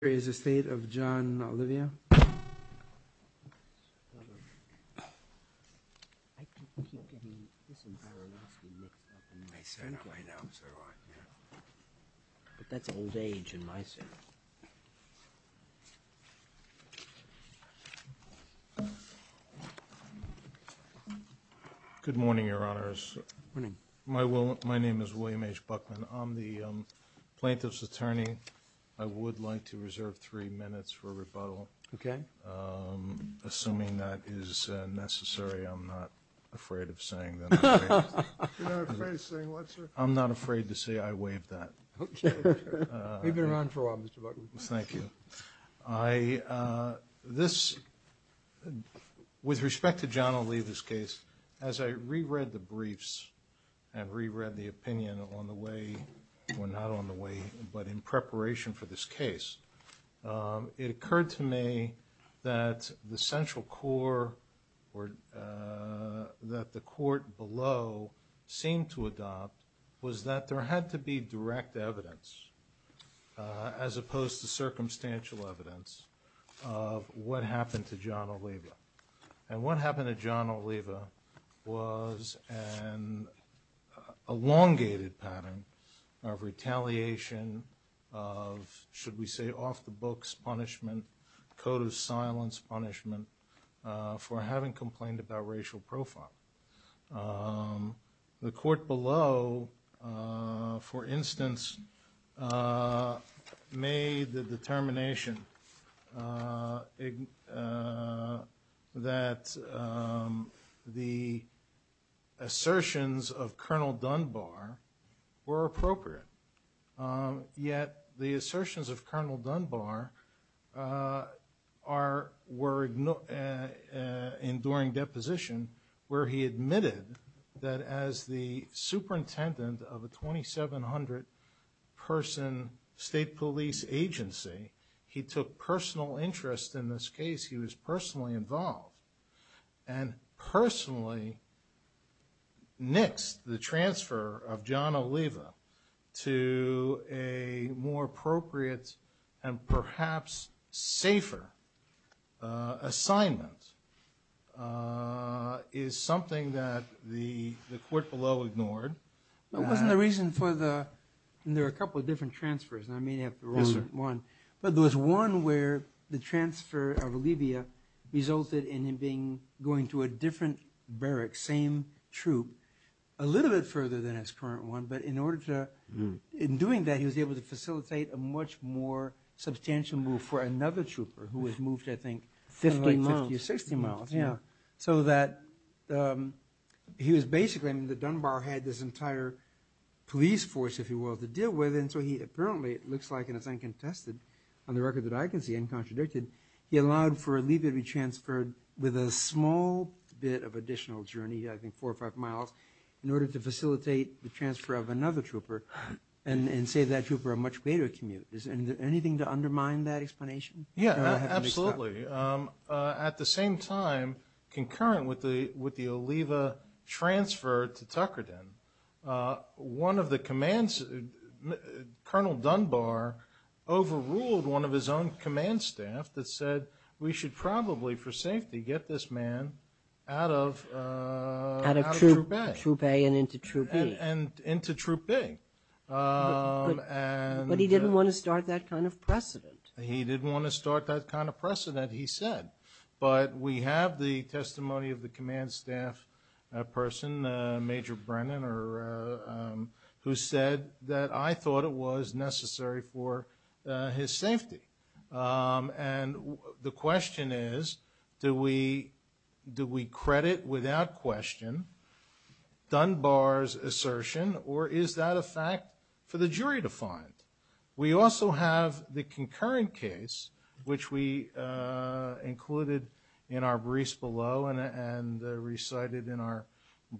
Here is the State of John Oliva. Good morning, Your Honors. Good morning. My name is William H. Buckman. I'm the plaintiff's attorney. I would like to reserve three minutes for rebuttal. Okay. Assuming that is necessary, I'm not afraid of saying that. You're not afraid of saying what, sir? I'm not afraid to say I waive that. Okay. You've been around for a while, Mr. Buckman. Thank you. I, this, with respect to John Oliva's case, as I re-read the briefs and re-read the opinion on the way, or not on the way, but in preparation for this case, it occurred to me that the central core or that the court below seemed to adopt was that there had to be direct evidence, as opposed to circumstantial evidence, of what happened to John Oliva. And what happened to John Oliva was an elongated pattern of retaliation of, should we say, off-the-books punishment, code of silence punishment for having complained about racial profile. The court below, for instance, made the determination that the assertions of Colonel Dunbar were appropriate, yet the assertions of Colonel Dunbar are, were enduring deposition where he admitted that as the superintendent of a 2,700-person state police agency, he took personal interest in this case. He was personally involved and personally nixed the transfer of John Oliva to a more appropriate and perhaps safer assignment is something that the court below ignored. But wasn't the reason for the, and there are a couple of different transfers, and I may have the wrong one, but there was one where the transfer of Oliva resulted in him going to a different barrack, same troop, a little bit further than his current one, but in order to, in doing that, he was able to facilitate a much more substantial move for another trooper who had moved, I think, 50 or 60 miles. So that he was basically, I mean, that Dunbar had this entire police force, if you will, to deal with, and so he apparently, it looks like, and it's uncontested on the record that I can see, uncontradicted, he allowed for Oliva to be transferred with a small bit of additional journey, I think four or five miles, in order to facilitate the transfer of another trooper and save that trooper a much greater commute. Is there anything to undermine that explanation? Yeah, absolutely. At the same time, concurrent with the Oliva transfer to Tuckerdin, one of the commands, Colonel Dunbar overruled one of his own command staff that said we should probably, for safety, get this man out of Troop A. Out of Troop A and into Troop B. And into Troop B. But he didn't want to start that kind of precedent. He didn't want to start that kind of precedent, he said. But we have the testimony of the command staff person, Major Brennan, who said that I thought it was necessary for his safety. And the question is, do we credit without question Dunbar's assertion, or is that a fact for the jury to find? We also have the concurrent case, which we included in our briefs below and recited in our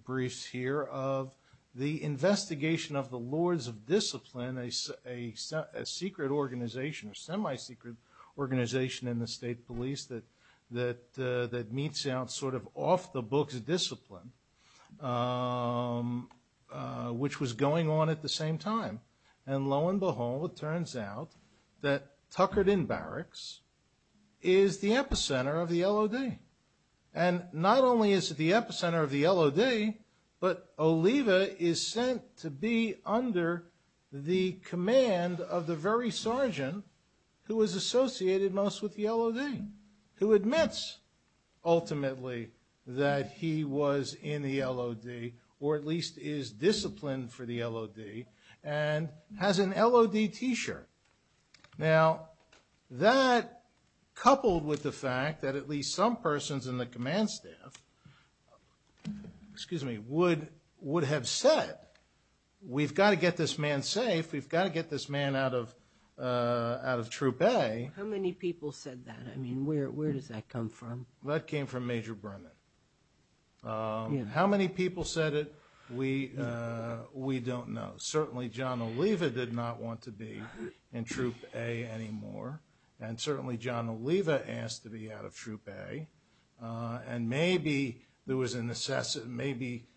briefs here, of the investigation of the Lords of Discipline, a secret organization, a semi-secret organization in the State Police that meets out sort of off-the-books discipline, which was going on at the same time. And lo and behold, it turns out that Tuckerdin Barracks is the epicenter of the LOD. And not only is it the epicenter of the LOD, but Oliva is sent to be under the command of the very sergeant who is associated most with the LOD, who admits ultimately that he was in the LOD, or at least is disciplined for the LOD, and has an LOD T-shirt. Now, that coupled with the fact that at least some persons in the command staff would have said, we've got to get this man safe, we've got to get this man out of Troop A. How many people said that? I mean, where does that come from? That came from Major Brennan. How many people said it? We don't know. Certainly John Oliva did not want to be in Troop A anymore. And certainly John Oliva asked to be out of Troop A. And maybe there was a necessity, maybe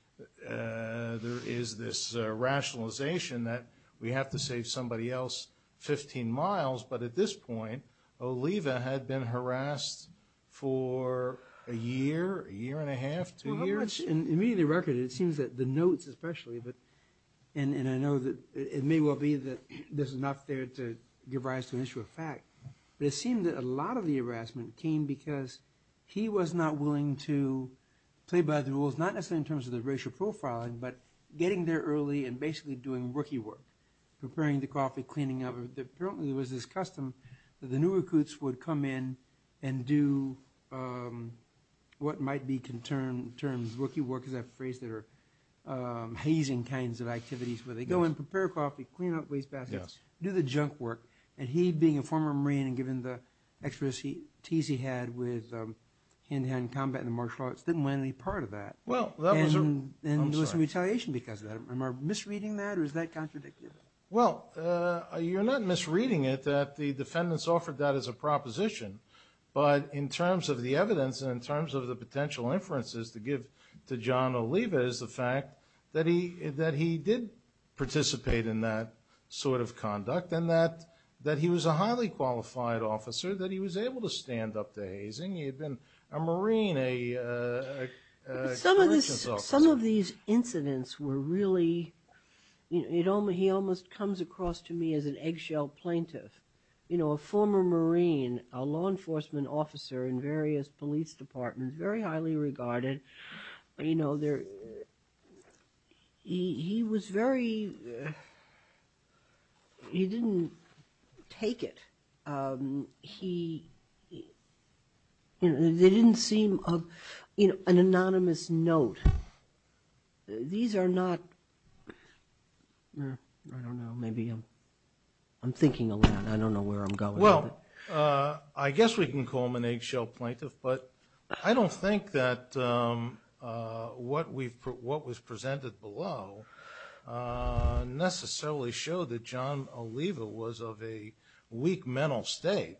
there is this rationalization that we have to save somebody else 15 miles. But at this point, Oliva had been harassed for a year, a year and a half, two years. Well, how much, in the immediate record, it seems that the notes especially, and I know that it may well be that there's enough there to give rise to an issue of fact, but it seemed that a lot of the harassment came because he was not willing to play by the rules, not necessarily in terms of the racial profiling, but getting there early and basically doing rookie work, preparing the coffee, cleaning up. Apparently there was this custom that the new recruits would come in and do what might be termed rookie work, because that phrase that are hazing kinds of activities, where they go and prepare coffee, clean up wastebaskets, do the junk work. And he being a former Marine and given the expertise he had with hand-to-hand combat and the martial arts, didn't want any part of that. And there was some retaliation because of that. Am I misreading that or is that contradictive? Well, you're not misreading it, that the defendants offered that as a proposition. But in terms of the evidence and in terms of the potential inferences to give to John Oliva is the fact that he did participate in that sort of conduct and that he was a highly qualified officer, that he was able to stand up to hazing. He had been a Marine, a corrections officer. Some of these incidents were really, he almost comes across to me as an eggshell plaintiff. You know, a former Marine, a law enforcement officer in various police departments, very highly regarded. You know, he was very, he didn't take it. They didn't seem of, you know, an anonymous note. These are not, I don't know, maybe I'm thinking a lot. I don't know where I'm going. Well, I guess we can call him an eggshell plaintiff. But I don't think that what was presented below necessarily showed that John Oliva was of a weak mental state.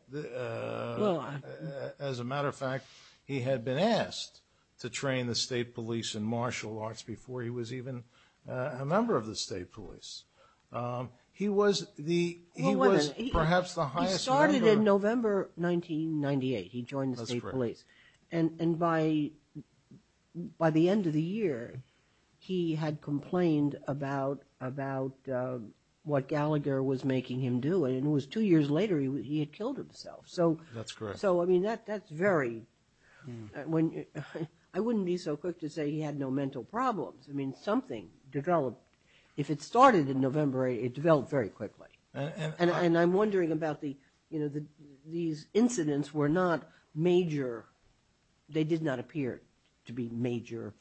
As a matter of fact, he had been asked to train the state police in martial arts before he was even a member of the state police. He was perhaps the highest ranker. He did it in November 1998. He joined the state police. And by the end of the year, he had complained about what Gallagher was making him do. And it was two years later, he had killed himself. That's correct. So, I mean, that's very, I wouldn't be so quick to say he had no mental problems. I mean, something developed. If it started in November, it developed very quickly. And I'm wondering about these incidents were not major. They did not appear to be major.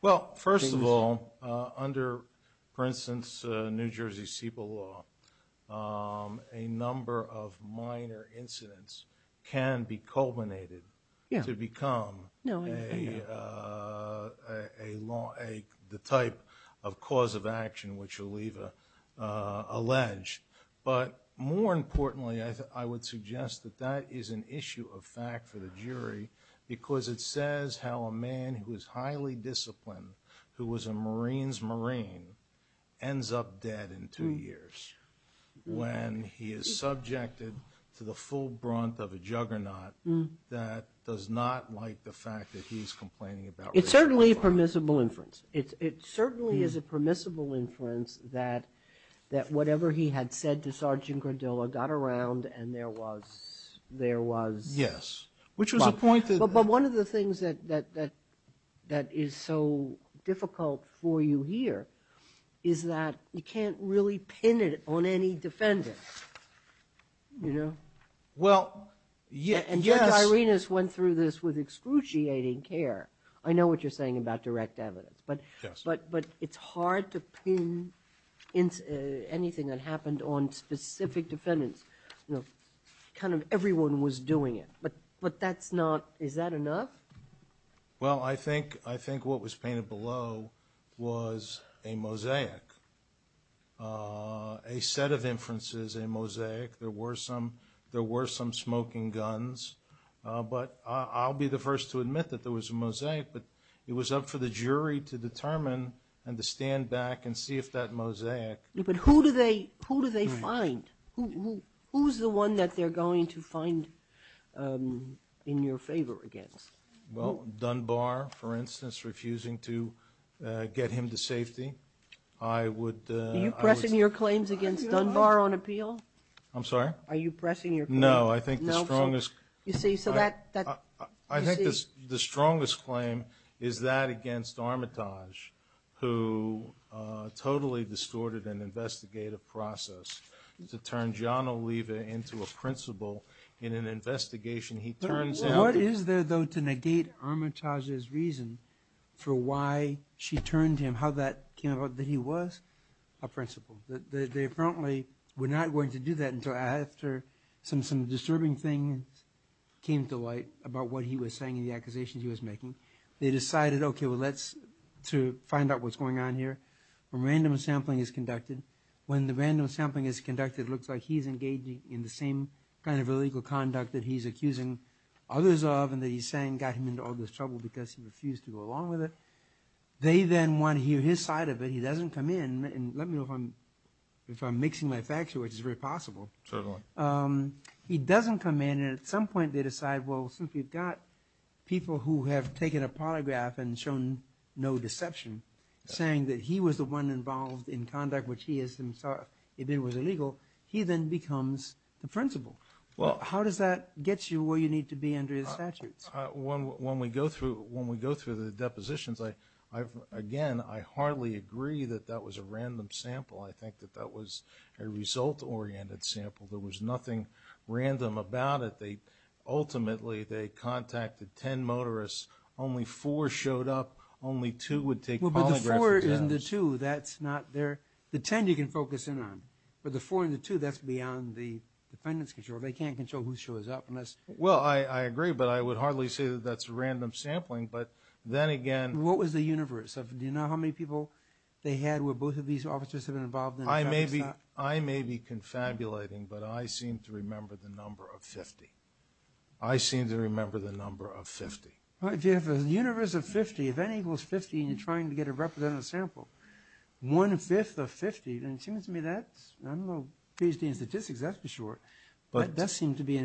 Well, first of all, under, for instance, New Jersey CEPA law, a number of minor incidents can be culminated to become a law, the type of cause of action which Oliva alleged. But more importantly, I would suggest that that is an issue of fact for the jury because it says how a man who is highly disciplined, who was a Marine's Marine, ends up dead in two years when he is subjected to the full brunt of a juggernaut that does not like the fact that he's complaining about what Gallagher did. It's certainly a permissible inference. It certainly is a permissible inference that whatever he had said to Sergeant Gradilla got around and there was, there was. Yes. But one of the things that is so difficult for you here is that you can't really pin it on any defendant, you know. Well, yes. And Judge Irenas went through this with excruciating care. I know what you're saying about direct evidence. Yes. But it's hard to pin anything that happened on specific defendants. You know, kind of everyone was doing it. But that's not, is that enough? Well, I think what was painted below was a mosaic, a set of inferences, a mosaic. There were some smoking guns. But I'll be the first to admit that there was a mosaic, but it was up for the jury to determine and to stand back and see if that mosaic. But who do they find? Who's the one that they're going to find in your favor against? Well, Dunbar, for instance, refusing to get him to safety. Are you pressing your claims against Dunbar on appeal? I'm sorry? Are you pressing your claim? No. I think the strongest claim is that against Armitage, who totally distorted an investigative process to turn John Oliva into a principal in an investigation. What is there, though, to negate Armitage's reason for why she turned him, how that came about, that he was a principal? They apparently were not going to do that until after some disturbing things came to light about what he was saying and the accusations he was making. They decided, okay, well, let's find out what's going on here. A random sampling is conducted. When the random sampling is conducted, it looks like he's engaging in the same kind of illegal conduct that he's accusing others of and that he's saying got him into all this trouble because he refused to go along with it. They then want to hear his side of it. He doesn't come in, and let me know if I'm mixing my facts here, which is very possible. Certainly. He doesn't come in, and at some point they decide, well, since we've got people who have taken a polygraph and shown no deception saying that he was the one involved in conduct which he has himself admitted was illegal, he then becomes the principal. How does that get you where you need to be under his statutes? When we go through the depositions, again, I hardly agree that that was a random sample. I think that that was a result-oriented sample. There was nothing random about it. Ultimately, they contacted ten motorists. Only four showed up. Only two would take polygraphs. Well, but the four and the two, that's not there. The ten you can focus in on, but the four and the two, that's beyond the defendant's control. They can't control who shows up. Well, I agree, but I would hardly say that that's random sampling, but then again... What was the universe? Do you know how many people they had where both of these officers had been involved in the trial? I may be confabulating, but I seem to remember the number of 50. I seem to remember the number of 50. If you have a universe of 50, if N equals 50, and you're trying to get a representative sample, one-fifth of 50, and it seems to me that's, I don't know, PhD in statistics, that's for sure. That does seem to be,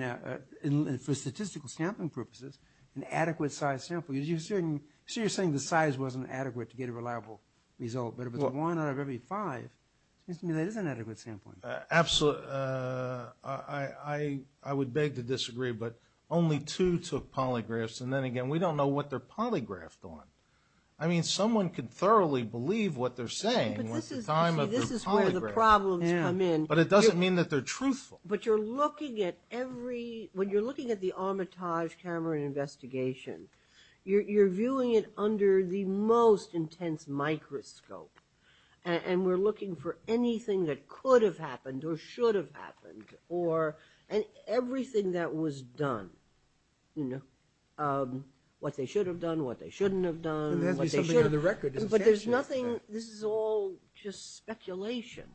for statistical sampling purposes, an adequate-sized sample. You're saying the size wasn't adequate to get a reliable result, but if it's one out of every five, it seems to me that is an adequate sampling. Absolutely. I would beg to disagree, but only two took polygraphs, and then again, we don't know what they're polygraphed on. I mean, someone could thoroughly believe what they're saying at the time of the polygraph. But this is where the problems come in. But it doesn't mean that they're truthful. But you're looking at every, when you're looking at the Armitage camera investigation, you're viewing it under the most intense microscope, and we're looking for anything that could have happened or should have happened, and everything that was done, what they should have done, what they shouldn't have done. There has to be something on the record. But there's nothing, this is all just speculation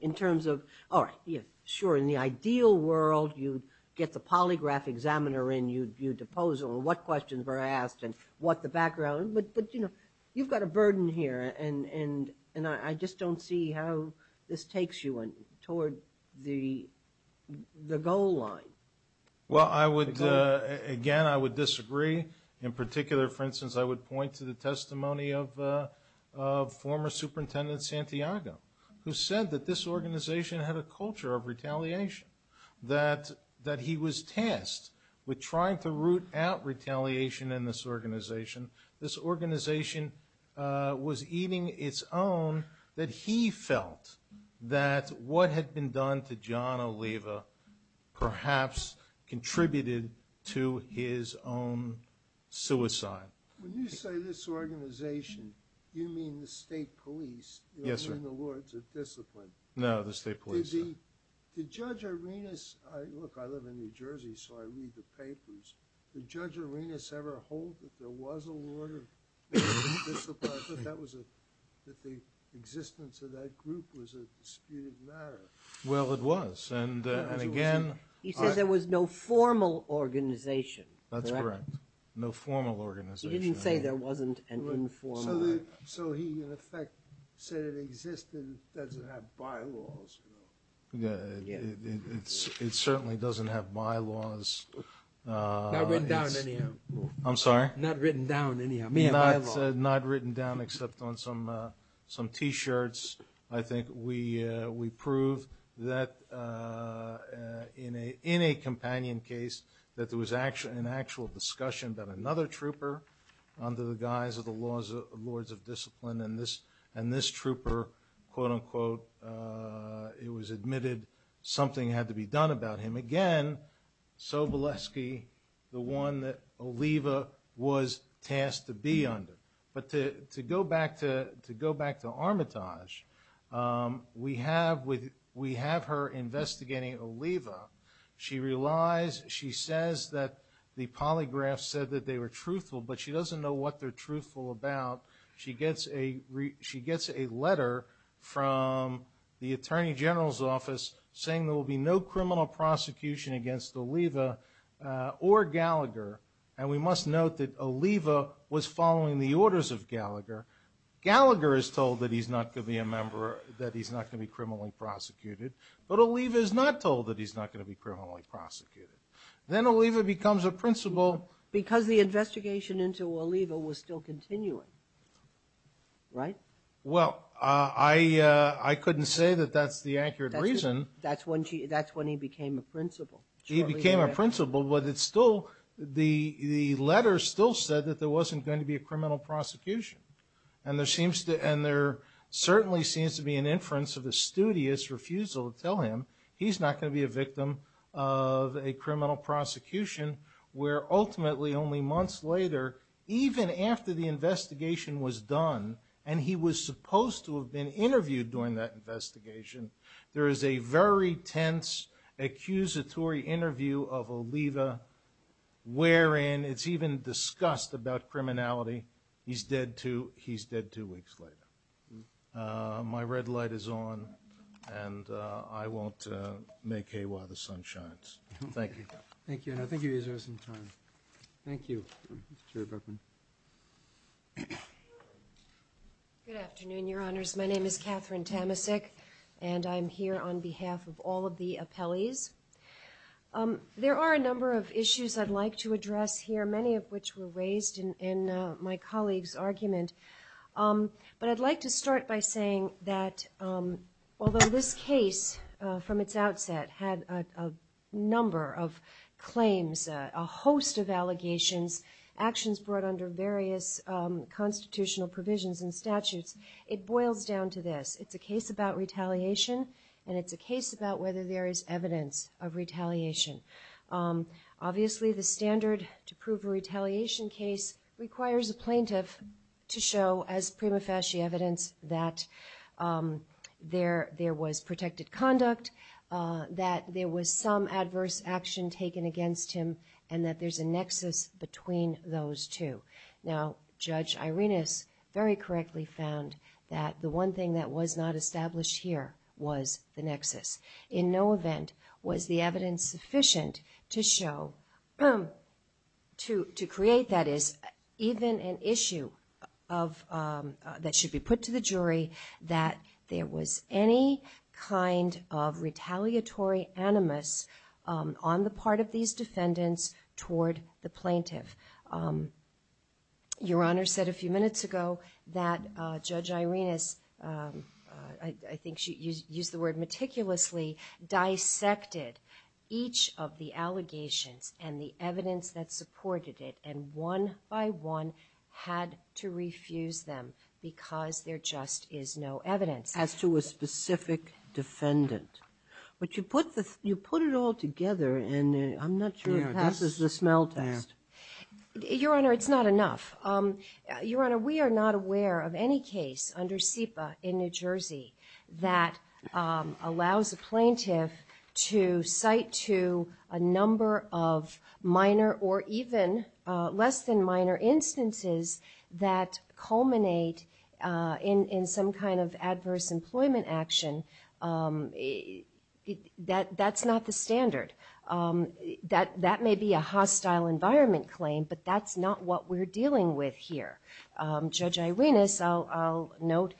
in terms of, all right, sure, in the ideal world, you'd get the polygraph examiner in, you'd view deposal and what questions were asked and what the background. But, you know, you've got a burden here, and I just don't see how this takes you toward the goal line. Well, I would, again, I would disagree. In particular, for instance, I would point to the testimony of former Superintendent Santiago, who said that this organization had a culture of retaliation, that he was tasked with trying to root out retaliation in this organization. This organization was eating its own, that he felt that what had been done to John Oliva perhaps contributed to his own suicide. When you say this organization, you mean the state police? Yes, sir. You mean the Lords of Discipline? No, the state police. Did Judge Arenas, look, I live in New Jersey, so I read the papers, did Judge Arenas ever hold that there was a Lord of Discipline, that the existence of that group was a disputed matter? Well, it was, and again... He said there was no formal organization, correct? That's correct, no formal organization. He didn't say there wasn't an informal organization. So he, in effect, said it existed, doesn't have bylaws. It certainly doesn't have bylaws. Not written down, anyhow. I'm sorry? Not written down, anyhow. Not written down, except on some T-shirts. I think we prove that in a companion case, that there was an actual discussion that another trooper, under the guise of the Lords of Discipline, and this trooper, quote-unquote, it was admitted something had to be done about him. Again, Sobolewski, the one that Oliva was tasked to be under. But to go back to Armitage, we have her investigating Oliva. She says that the polygraph said that they were truthful, but she doesn't know what they're truthful about. She gets a letter from the Attorney General's office saying there will be no criminal prosecution against Oliva or Gallagher. And we must note that Oliva was following the orders of Gallagher. Gallagher is told that he's not going to be a member, that he's not going to be criminally prosecuted. But Oliva is not told that he's not going to be criminally prosecuted. Then Oliva becomes a principal. Because the investigation into Oliva was still continuing. Right? Well, I couldn't say that that's the accurate reason. That's when he became a principal. He became a principal, but it's still, the letter still said that there wasn't going to be a criminal prosecution. And there certainly seems to be an inference of a studious refusal to tell him he's not going to be a victim of a criminal prosecution where ultimately only months later, even after the investigation was done, and he was supposed to have been interviewed during that investigation, there is a very tense accusatory interview of Oliva wherein it's even discussed about criminality. He's dead two weeks later. My red light is on, and I won't make Heiwa the sun shines. Thank you. Thank you. I think you guys have some time. Thank you. Mr. Chairman. Good afternoon, Your Honors. My name is Catherine Tamasic, and I'm here on behalf of all of the appellees. There are a number of issues I'd like to address here, many of which were raised in my colleague's argument. But I'd like to start by saying that although this case, from its outset, had a number of claims, a host of allegations, actions brought under various constitutional provisions and statutes, it boils down to this. It's a case about retaliation, and it's a case about whether there is evidence of retaliation. Obviously the standard to prove a retaliation case requires a plaintiff to show, as prima facie evidence, that there was protected conduct, that there was some adverse action taken against him, and that there's a nexus between those two. Now, Judge Irenas very correctly found that the one thing that was not established here was the nexus. In no event was the evidence sufficient to show, to create, that is, even an issue that should be put to the jury, that there was any kind of retaliatory animus on the part of these defendants toward the plaintiff. Your Honor said a few minutes ago that Judge Irenas, I think she used the word meticulously, dissected each of the allegations and the evidence that supported it, and one by one had to refuse them because there just is no evidence. As to a specific defendant. But you put it all together, and I'm not sure. This is the smell test. Your Honor, it's not enough. Your Honor, we are not aware of any case under SEPA in New Jersey that allows a plaintiff to cite to a number of minor or even less than minor instances that culminate in some kind of adverse employment action. That's not the standard. That may be a hostile environment claim, but that's not what we're dealing with here. Judge Irenas, I'll note,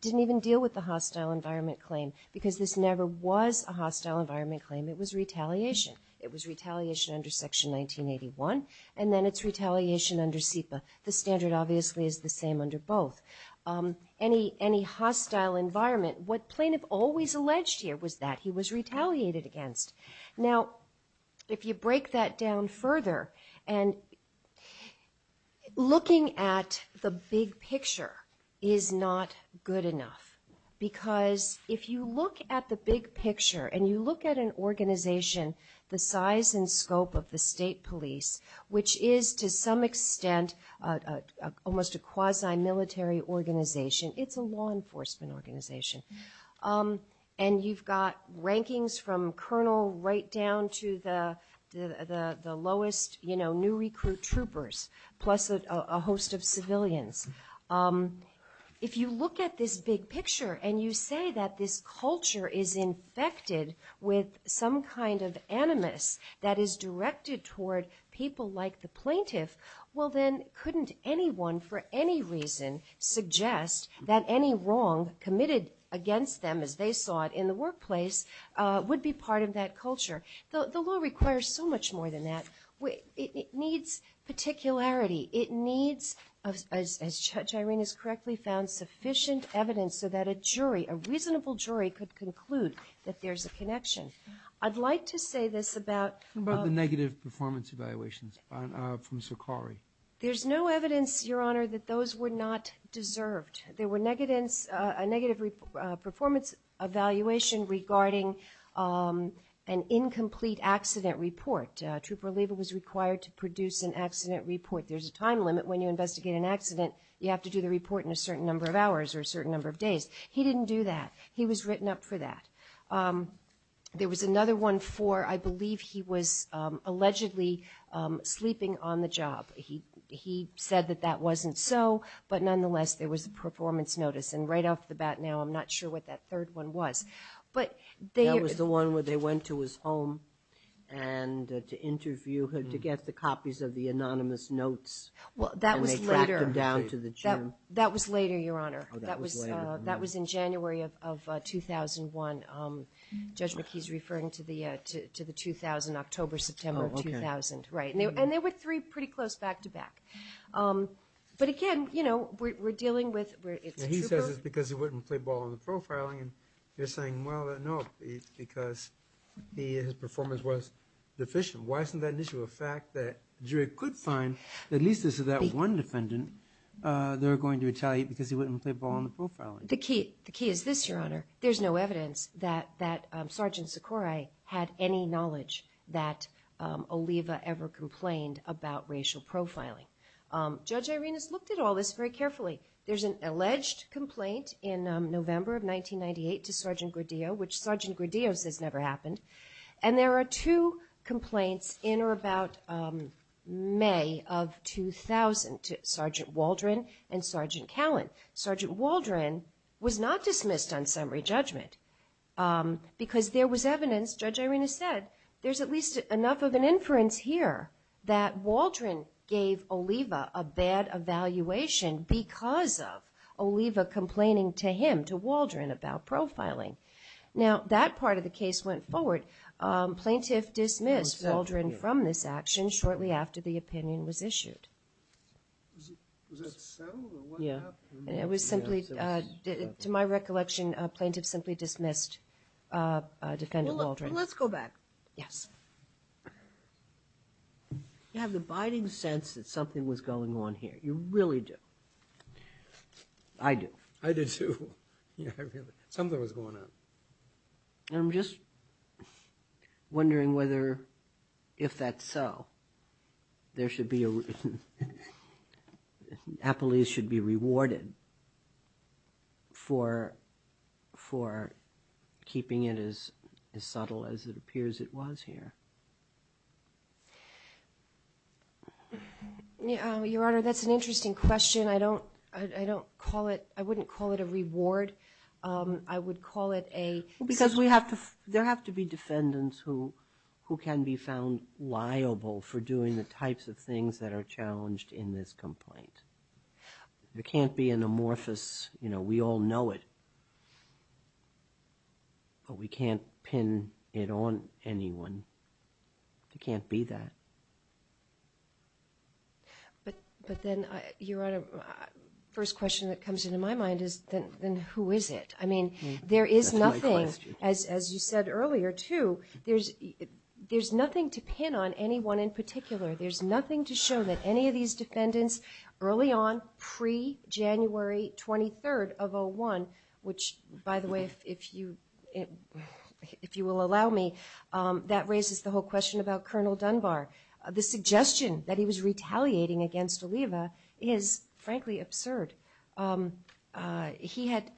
didn't even deal with the hostile environment claim because this never was a hostile environment claim. It was retaliation. It was retaliation under Section 1981, and then it's retaliation under SEPA. The standard obviously is the same under both. Any hostile environment, what plaintiff always alleged here was that he was retaliated against. Now, if you break that down further, and looking at the big picture is not good enough because if you look at the big picture and you look at an organization the size and scope of the state police, which is to some extent almost a quasi-military organization. It's a law enforcement organization. And you've got rankings from colonel right down to the lowest new recruit troopers plus a host of civilians. If you look at this big picture and you say that this culture is infected with some kind of animus that is directed toward people like the plaintiff, well then couldn't anyone for any reason suggest that any wrong committed against them, as they saw it in the workplace, would be part of that culture? The law requires so much more than that. It needs particularity. It needs, as Judge Irene has correctly found, sufficient evidence so that a jury, a reasonable jury, could conclude that there's a connection. I'd like to say this about the negative performance evaluations from Sokari. There's no evidence, Your Honor, that those were not deserved. There were negative performance evaluation regarding an incomplete accident report. Trooper Lieber was required to produce an accident report. There's a time limit when you investigate an accident. You have to do the report in a certain number of hours or a certain number of days. He didn't do that. He was written up for that. There was another one for I believe he was allegedly sleeping on the job. He said that that wasn't so, but nonetheless there was a performance notice. And right off the bat now I'm not sure what that third one was. That was the one where they went to his home to interview him to get the copies of the anonymous notes and they tracked them down to the gym. That was later, Your Honor. That was in January of 2001. Judge McKee is referring to the 2000, October, September 2000. And there were three pretty close back-to-back. But, again, we're dealing with a trooper. He says it's because he wouldn't play ball in the profiling. They're saying, well, no, it's because his performance was deficient. Why isn't that an issue? A fact that jury could find, at least as to that one defendant, they're going to retaliate because he wouldn't play ball in the profiling. The key is this, Your Honor. There's no evidence that Sergeant Socorro had any knowledge that Oliva ever complained about racial profiling. Judge Irenas looked at all this very carefully. There's an alleged complaint in November of 1998 to Sergeant Gordillo, which Sergeant Gordillo says never happened. And there are two complaints in or about May of 2000 to Sergeant Waldron and Sergeant Callan. Sergeant Waldron was not dismissed on summary judgment because there was evidence, Judge Irenas said, there's at least enough of an inference here that Waldron gave Oliva a bad evaluation because of Oliva complaining to him, to Waldron, about profiling. Now, that part of the case went forward. Plaintiff dismissed Waldron from this action shortly after the opinion was issued. Was that so, or what happened? It was simply, to my recollection, plaintiff simply dismissed defendant Waldron. Well, let's go back. Yes. You have the abiding sense that something was going on here. You really do. I do. I do, too. Something was going on. I'm just wondering whether, if that's so, there should be a reward. Appellees should be rewarded for keeping it as subtle as it appears it was here. Your Honor, that's an interesting question. I wouldn't call it a reward. I would call it a... Because there have to be defendants who can be found liable for doing the types of things that are challenged in this complaint. There can't be an amorphous, you know, we all know it, but we can't pin it on anyone. It can't be that. But then, Your Honor, the first question that comes into my mind is then who is it? I mean, there is nothing, as you said earlier, too, there's nothing to pin on anyone in particular. There's nothing to show that any of these defendants early on, pre-January 23rd of 01, which, by the way, if you will allow me, that raises the whole question about Colonel Dunbar. The suggestion that he was retaliating against Oliva is, frankly, absurd. He had...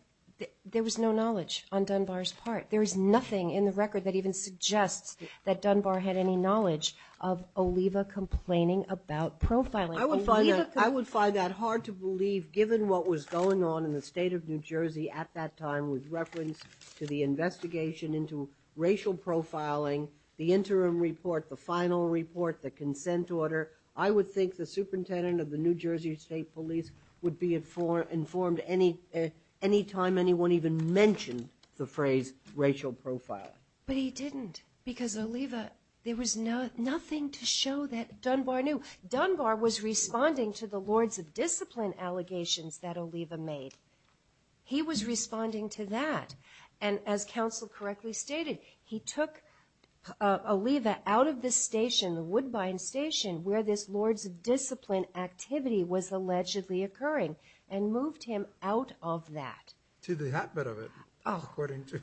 There was no knowledge on Dunbar's part. There is nothing in the record that even suggests that Dunbar had any knowledge of Oliva complaining about profiling. I would find that hard to believe, given what was going on in the state of New Jersey at that time with reference to the investigation into racial profiling, the interim report, the final report, the consent order. I would think the superintendent of the New Jersey State Police would be informed any time anyone even mentioned the phrase racial profiling. But he didn't, because Oliva... There was nothing to show that Dunbar knew. Dunbar was responding to the Lords of Discipline allegations that Oliva made. He was responding to that. And as counsel correctly stated, he took Oliva out of this station, the Woodbine Station, where this Lords of Discipline activity was allegedly occurring and moved him out of that. To the habit of it, according to...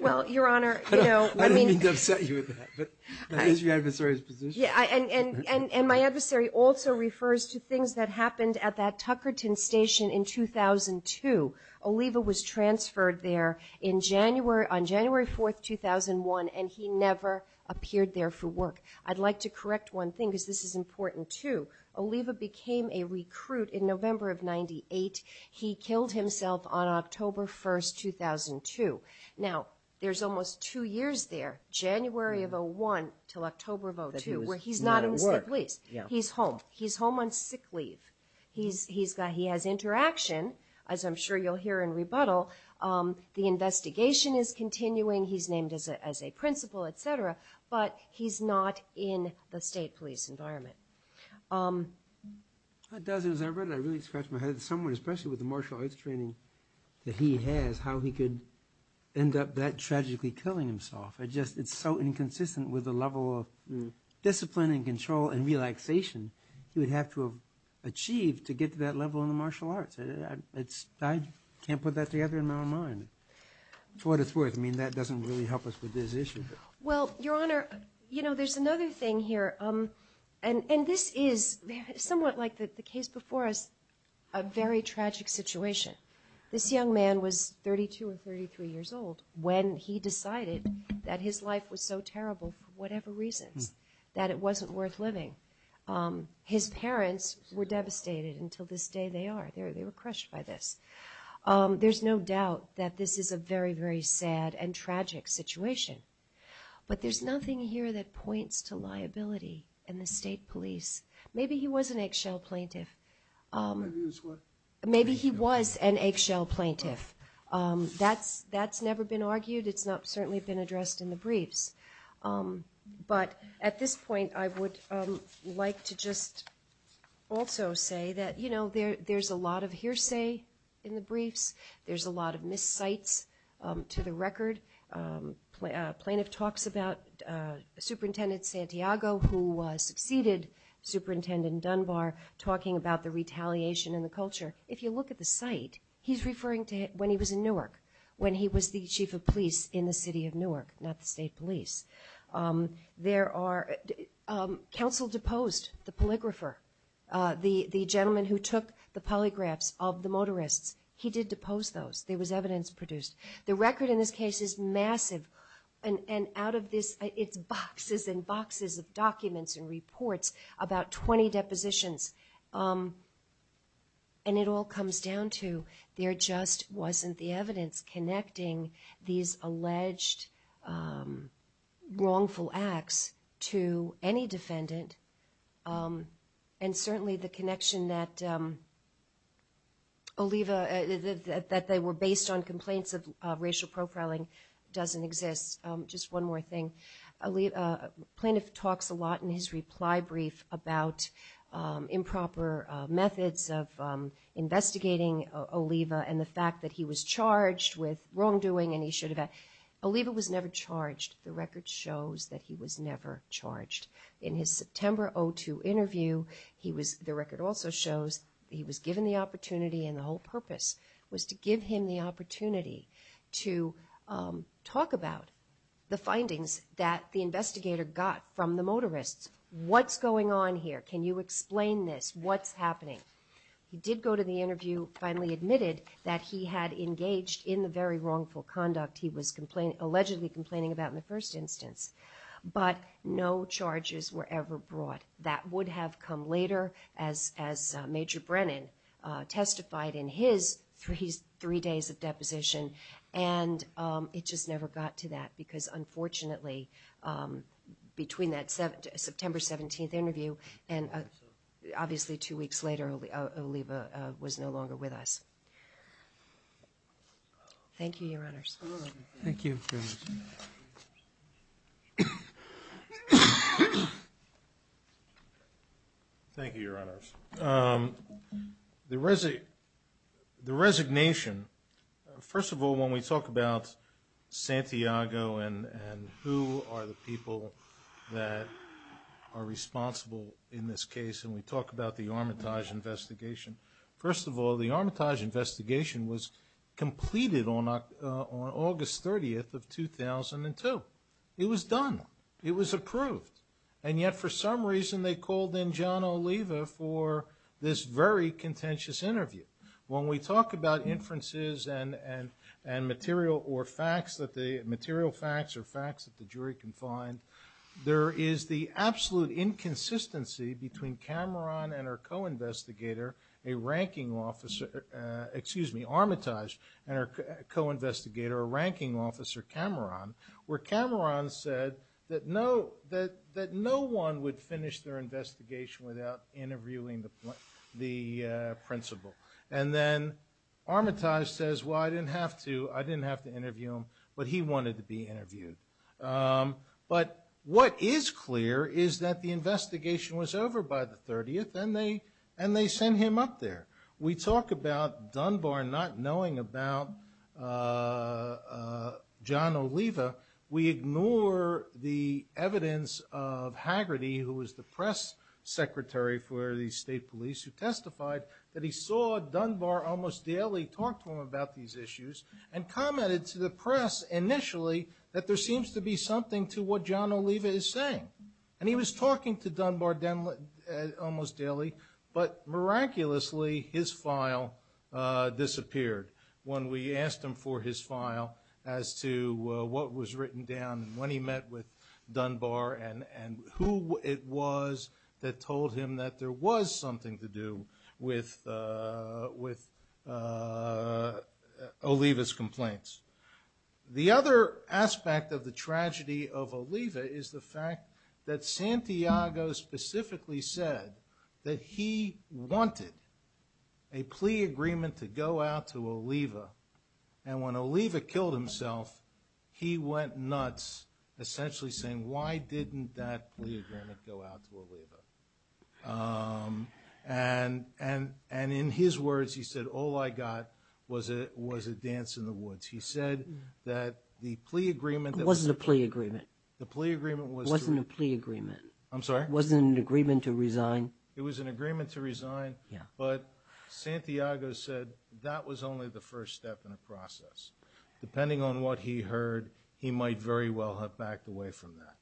Well, Your Honor, you know... I didn't mean to upset you with that, but that is your adversary's position. Yeah, and my adversary also refers to things that happened at that Tuckerton Station in 2002. Oliva was transferred there on January 4, 2001, and he never appeared there for work. I'd like to correct one thing, because this is important too. Oliva became a recruit in November of 98. He killed himself on October 1, 2002. Now, there's almost two years there, January of 01 till October of 02, where he's not in the State Police. He's home. He's home on sick leave. He has interaction, as I'm sure you'll hear in rebuttal. The investigation is continuing. He's named as a principal, etc., but he's not in the State Police environment. It does, as I read it, I really scratched my head. Someone, especially with the martial arts training that he has, how he could end up that tragically killing himself. It's so inconsistent with the level of discipline and control and relaxation he would have to have achieved to get to that level in the martial arts. I can't put that together in my own mind. For what it's worth, that doesn't really help us with this issue. Well, Your Honor, there's another thing here. This is somewhat like the case before us, a very tragic situation. This young man was 32 or 33 years old when he decided that his life was so terrible for whatever reasons that it wasn't worth living. His parents were devastated until this day they are. They were crushed by this. There's no doubt that this is a very, very sad and tragic situation. But there's nothing here that points to liability in the State Police. Maybe he was an eggshell plaintiff. Maybe he was what? Maybe he was an eggshell plaintiff. That's never been argued. It's not certainly been addressed in the briefs. But at this point, I would like to just also say that there's a lot of hearsay in the briefs. There's a lot of miscites to the record. A plaintiff talks about Superintendent Santiago, who succeeded Superintendent Dunbar, talking about the retaliation and the culture. If you look at the site, he's referring to when he was in Newark, when he was the chief of police in the city of Newark, not the State Police. Counsel deposed the polygrapher, the gentleman who took the polygraphs of the motorists. He did depose those. There was evidence produced. The record in this case is massive, and out of this it's boxes and boxes of documents and reports, about 20 depositions. And it all comes down to there just wasn't the evidence connecting these alleged wrongful acts to any defendant, and certainly the connection that Oliva, that they were based on complaints of racial profiling doesn't exist. Just one more thing. A plaintiff talks a lot in his reply brief about improper methods of investigating Oliva and the fact that he was charged with wrongdoing. Oliva was never charged. The record shows that he was never charged. In his September 2002 interview, the record also shows he was given the opportunity, and the whole purpose was to give him the opportunity to talk about the findings that the investigator got from the motorists. What's going on here? Can you explain this? What's happening? He did go to the interview, finally admitted that he had engaged in the very wrongful conduct he was allegedly complaining about in the first instance, but no charges were ever brought. That would have come later, as Major Brennan testified in his three days of deposition, and it just never got to that because unfortunately between that September 17th interview and obviously two weeks later Oliva was no longer with us. Thank you, Your Honors. Thank you. Thank you, Your Honors. The resignation, first of all, when we talk about Santiago and who are the people that are responsible in this case and we talk about the Armitage investigation, first of all the Armitage investigation was completed on August 30th of 2002. It was done. It was approved. And yet for some reason they called in John Oliva for this very contentious interview. When we talk about inferences and material or facts, material facts or facts that the jury can find, there is the absolute inconsistency between Cameron and her co-investigator, a ranking officer, excuse me, Armitage, and her co-investigator, a ranking officer, Cameron, where Cameron said that no one would finish their investigation without interviewing the principal. And then Armitage says, well, I didn't have to. I didn't have to interview him, but he wanted to be interviewed. But what is clear is that the investigation was over by the 30th and they sent him up there. We talk about Dunbar not knowing about John Oliva. We ignore the evidence of Haggerty, who was the press secretary for the state police, who testified that he saw Dunbar almost daily talk to him about these issues and commented to the press initially that there seems to be something to what John Oliva is saying. And he was talking to Dunbar almost daily, as to what was written down when he met with Dunbar and who it was that told him that there was something to do with Oliva's complaints. The other aspect of the tragedy of Oliva is the fact that Santiago specifically said that he wanted a plea agreement to go out to Oliva. And when Oliva killed himself, he went nuts, essentially saying, why didn't that plea agreement go out to Oliva? And in his words, he said, all I got was a dance in the woods. He said that the plea agreement that was – It wasn't a plea agreement. The plea agreement was – It wasn't a plea agreement. I'm sorry? It wasn't an agreement to resign? It was an agreement to resign. Yeah. But Santiago said that was only the first step in the process. Depending on what he heard, he might very well have backed away from that.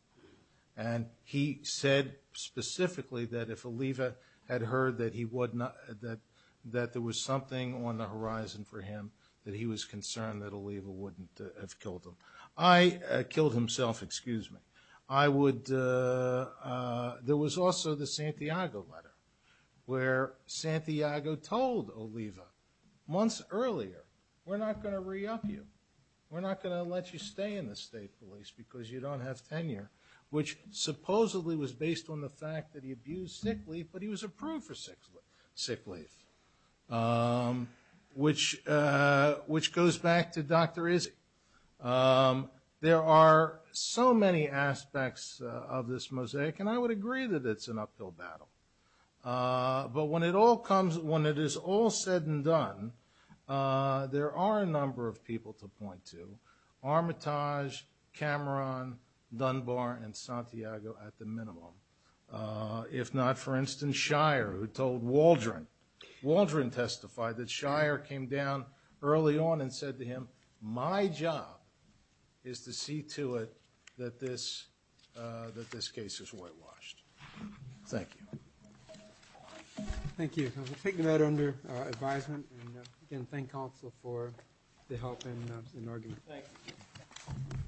And he said specifically that if Oliva had heard that he would not – that there was something on the horizon for him, that he was concerned that Oliva wouldn't have killed him. I – killed himself, excuse me. I would – there was also the Santiago letter, where Santiago told Oliva months earlier, we're not going to re-up you. We're not going to let you stay in the state police because you don't have tenure, which supposedly was based on the fact that he abused sick leave, but he was approved for sick leave, which goes back to Dr. Izzi. There are so many aspects of this mosaic, and I would agree that it's an uphill battle. But when it all comes – when it is all said and done, there are a number of people to point to – Armitage, Cameron, Dunbar, and Santiago at the minimum. If not, for instance, Shire, who told Waldron. Waldron testified that Shire came down early on and said to him, my job is to see to it that this case is whitewashed. Thank you. Thank you. We'll take that under advisement. And again, thank counsel for the help and argument. Thank you.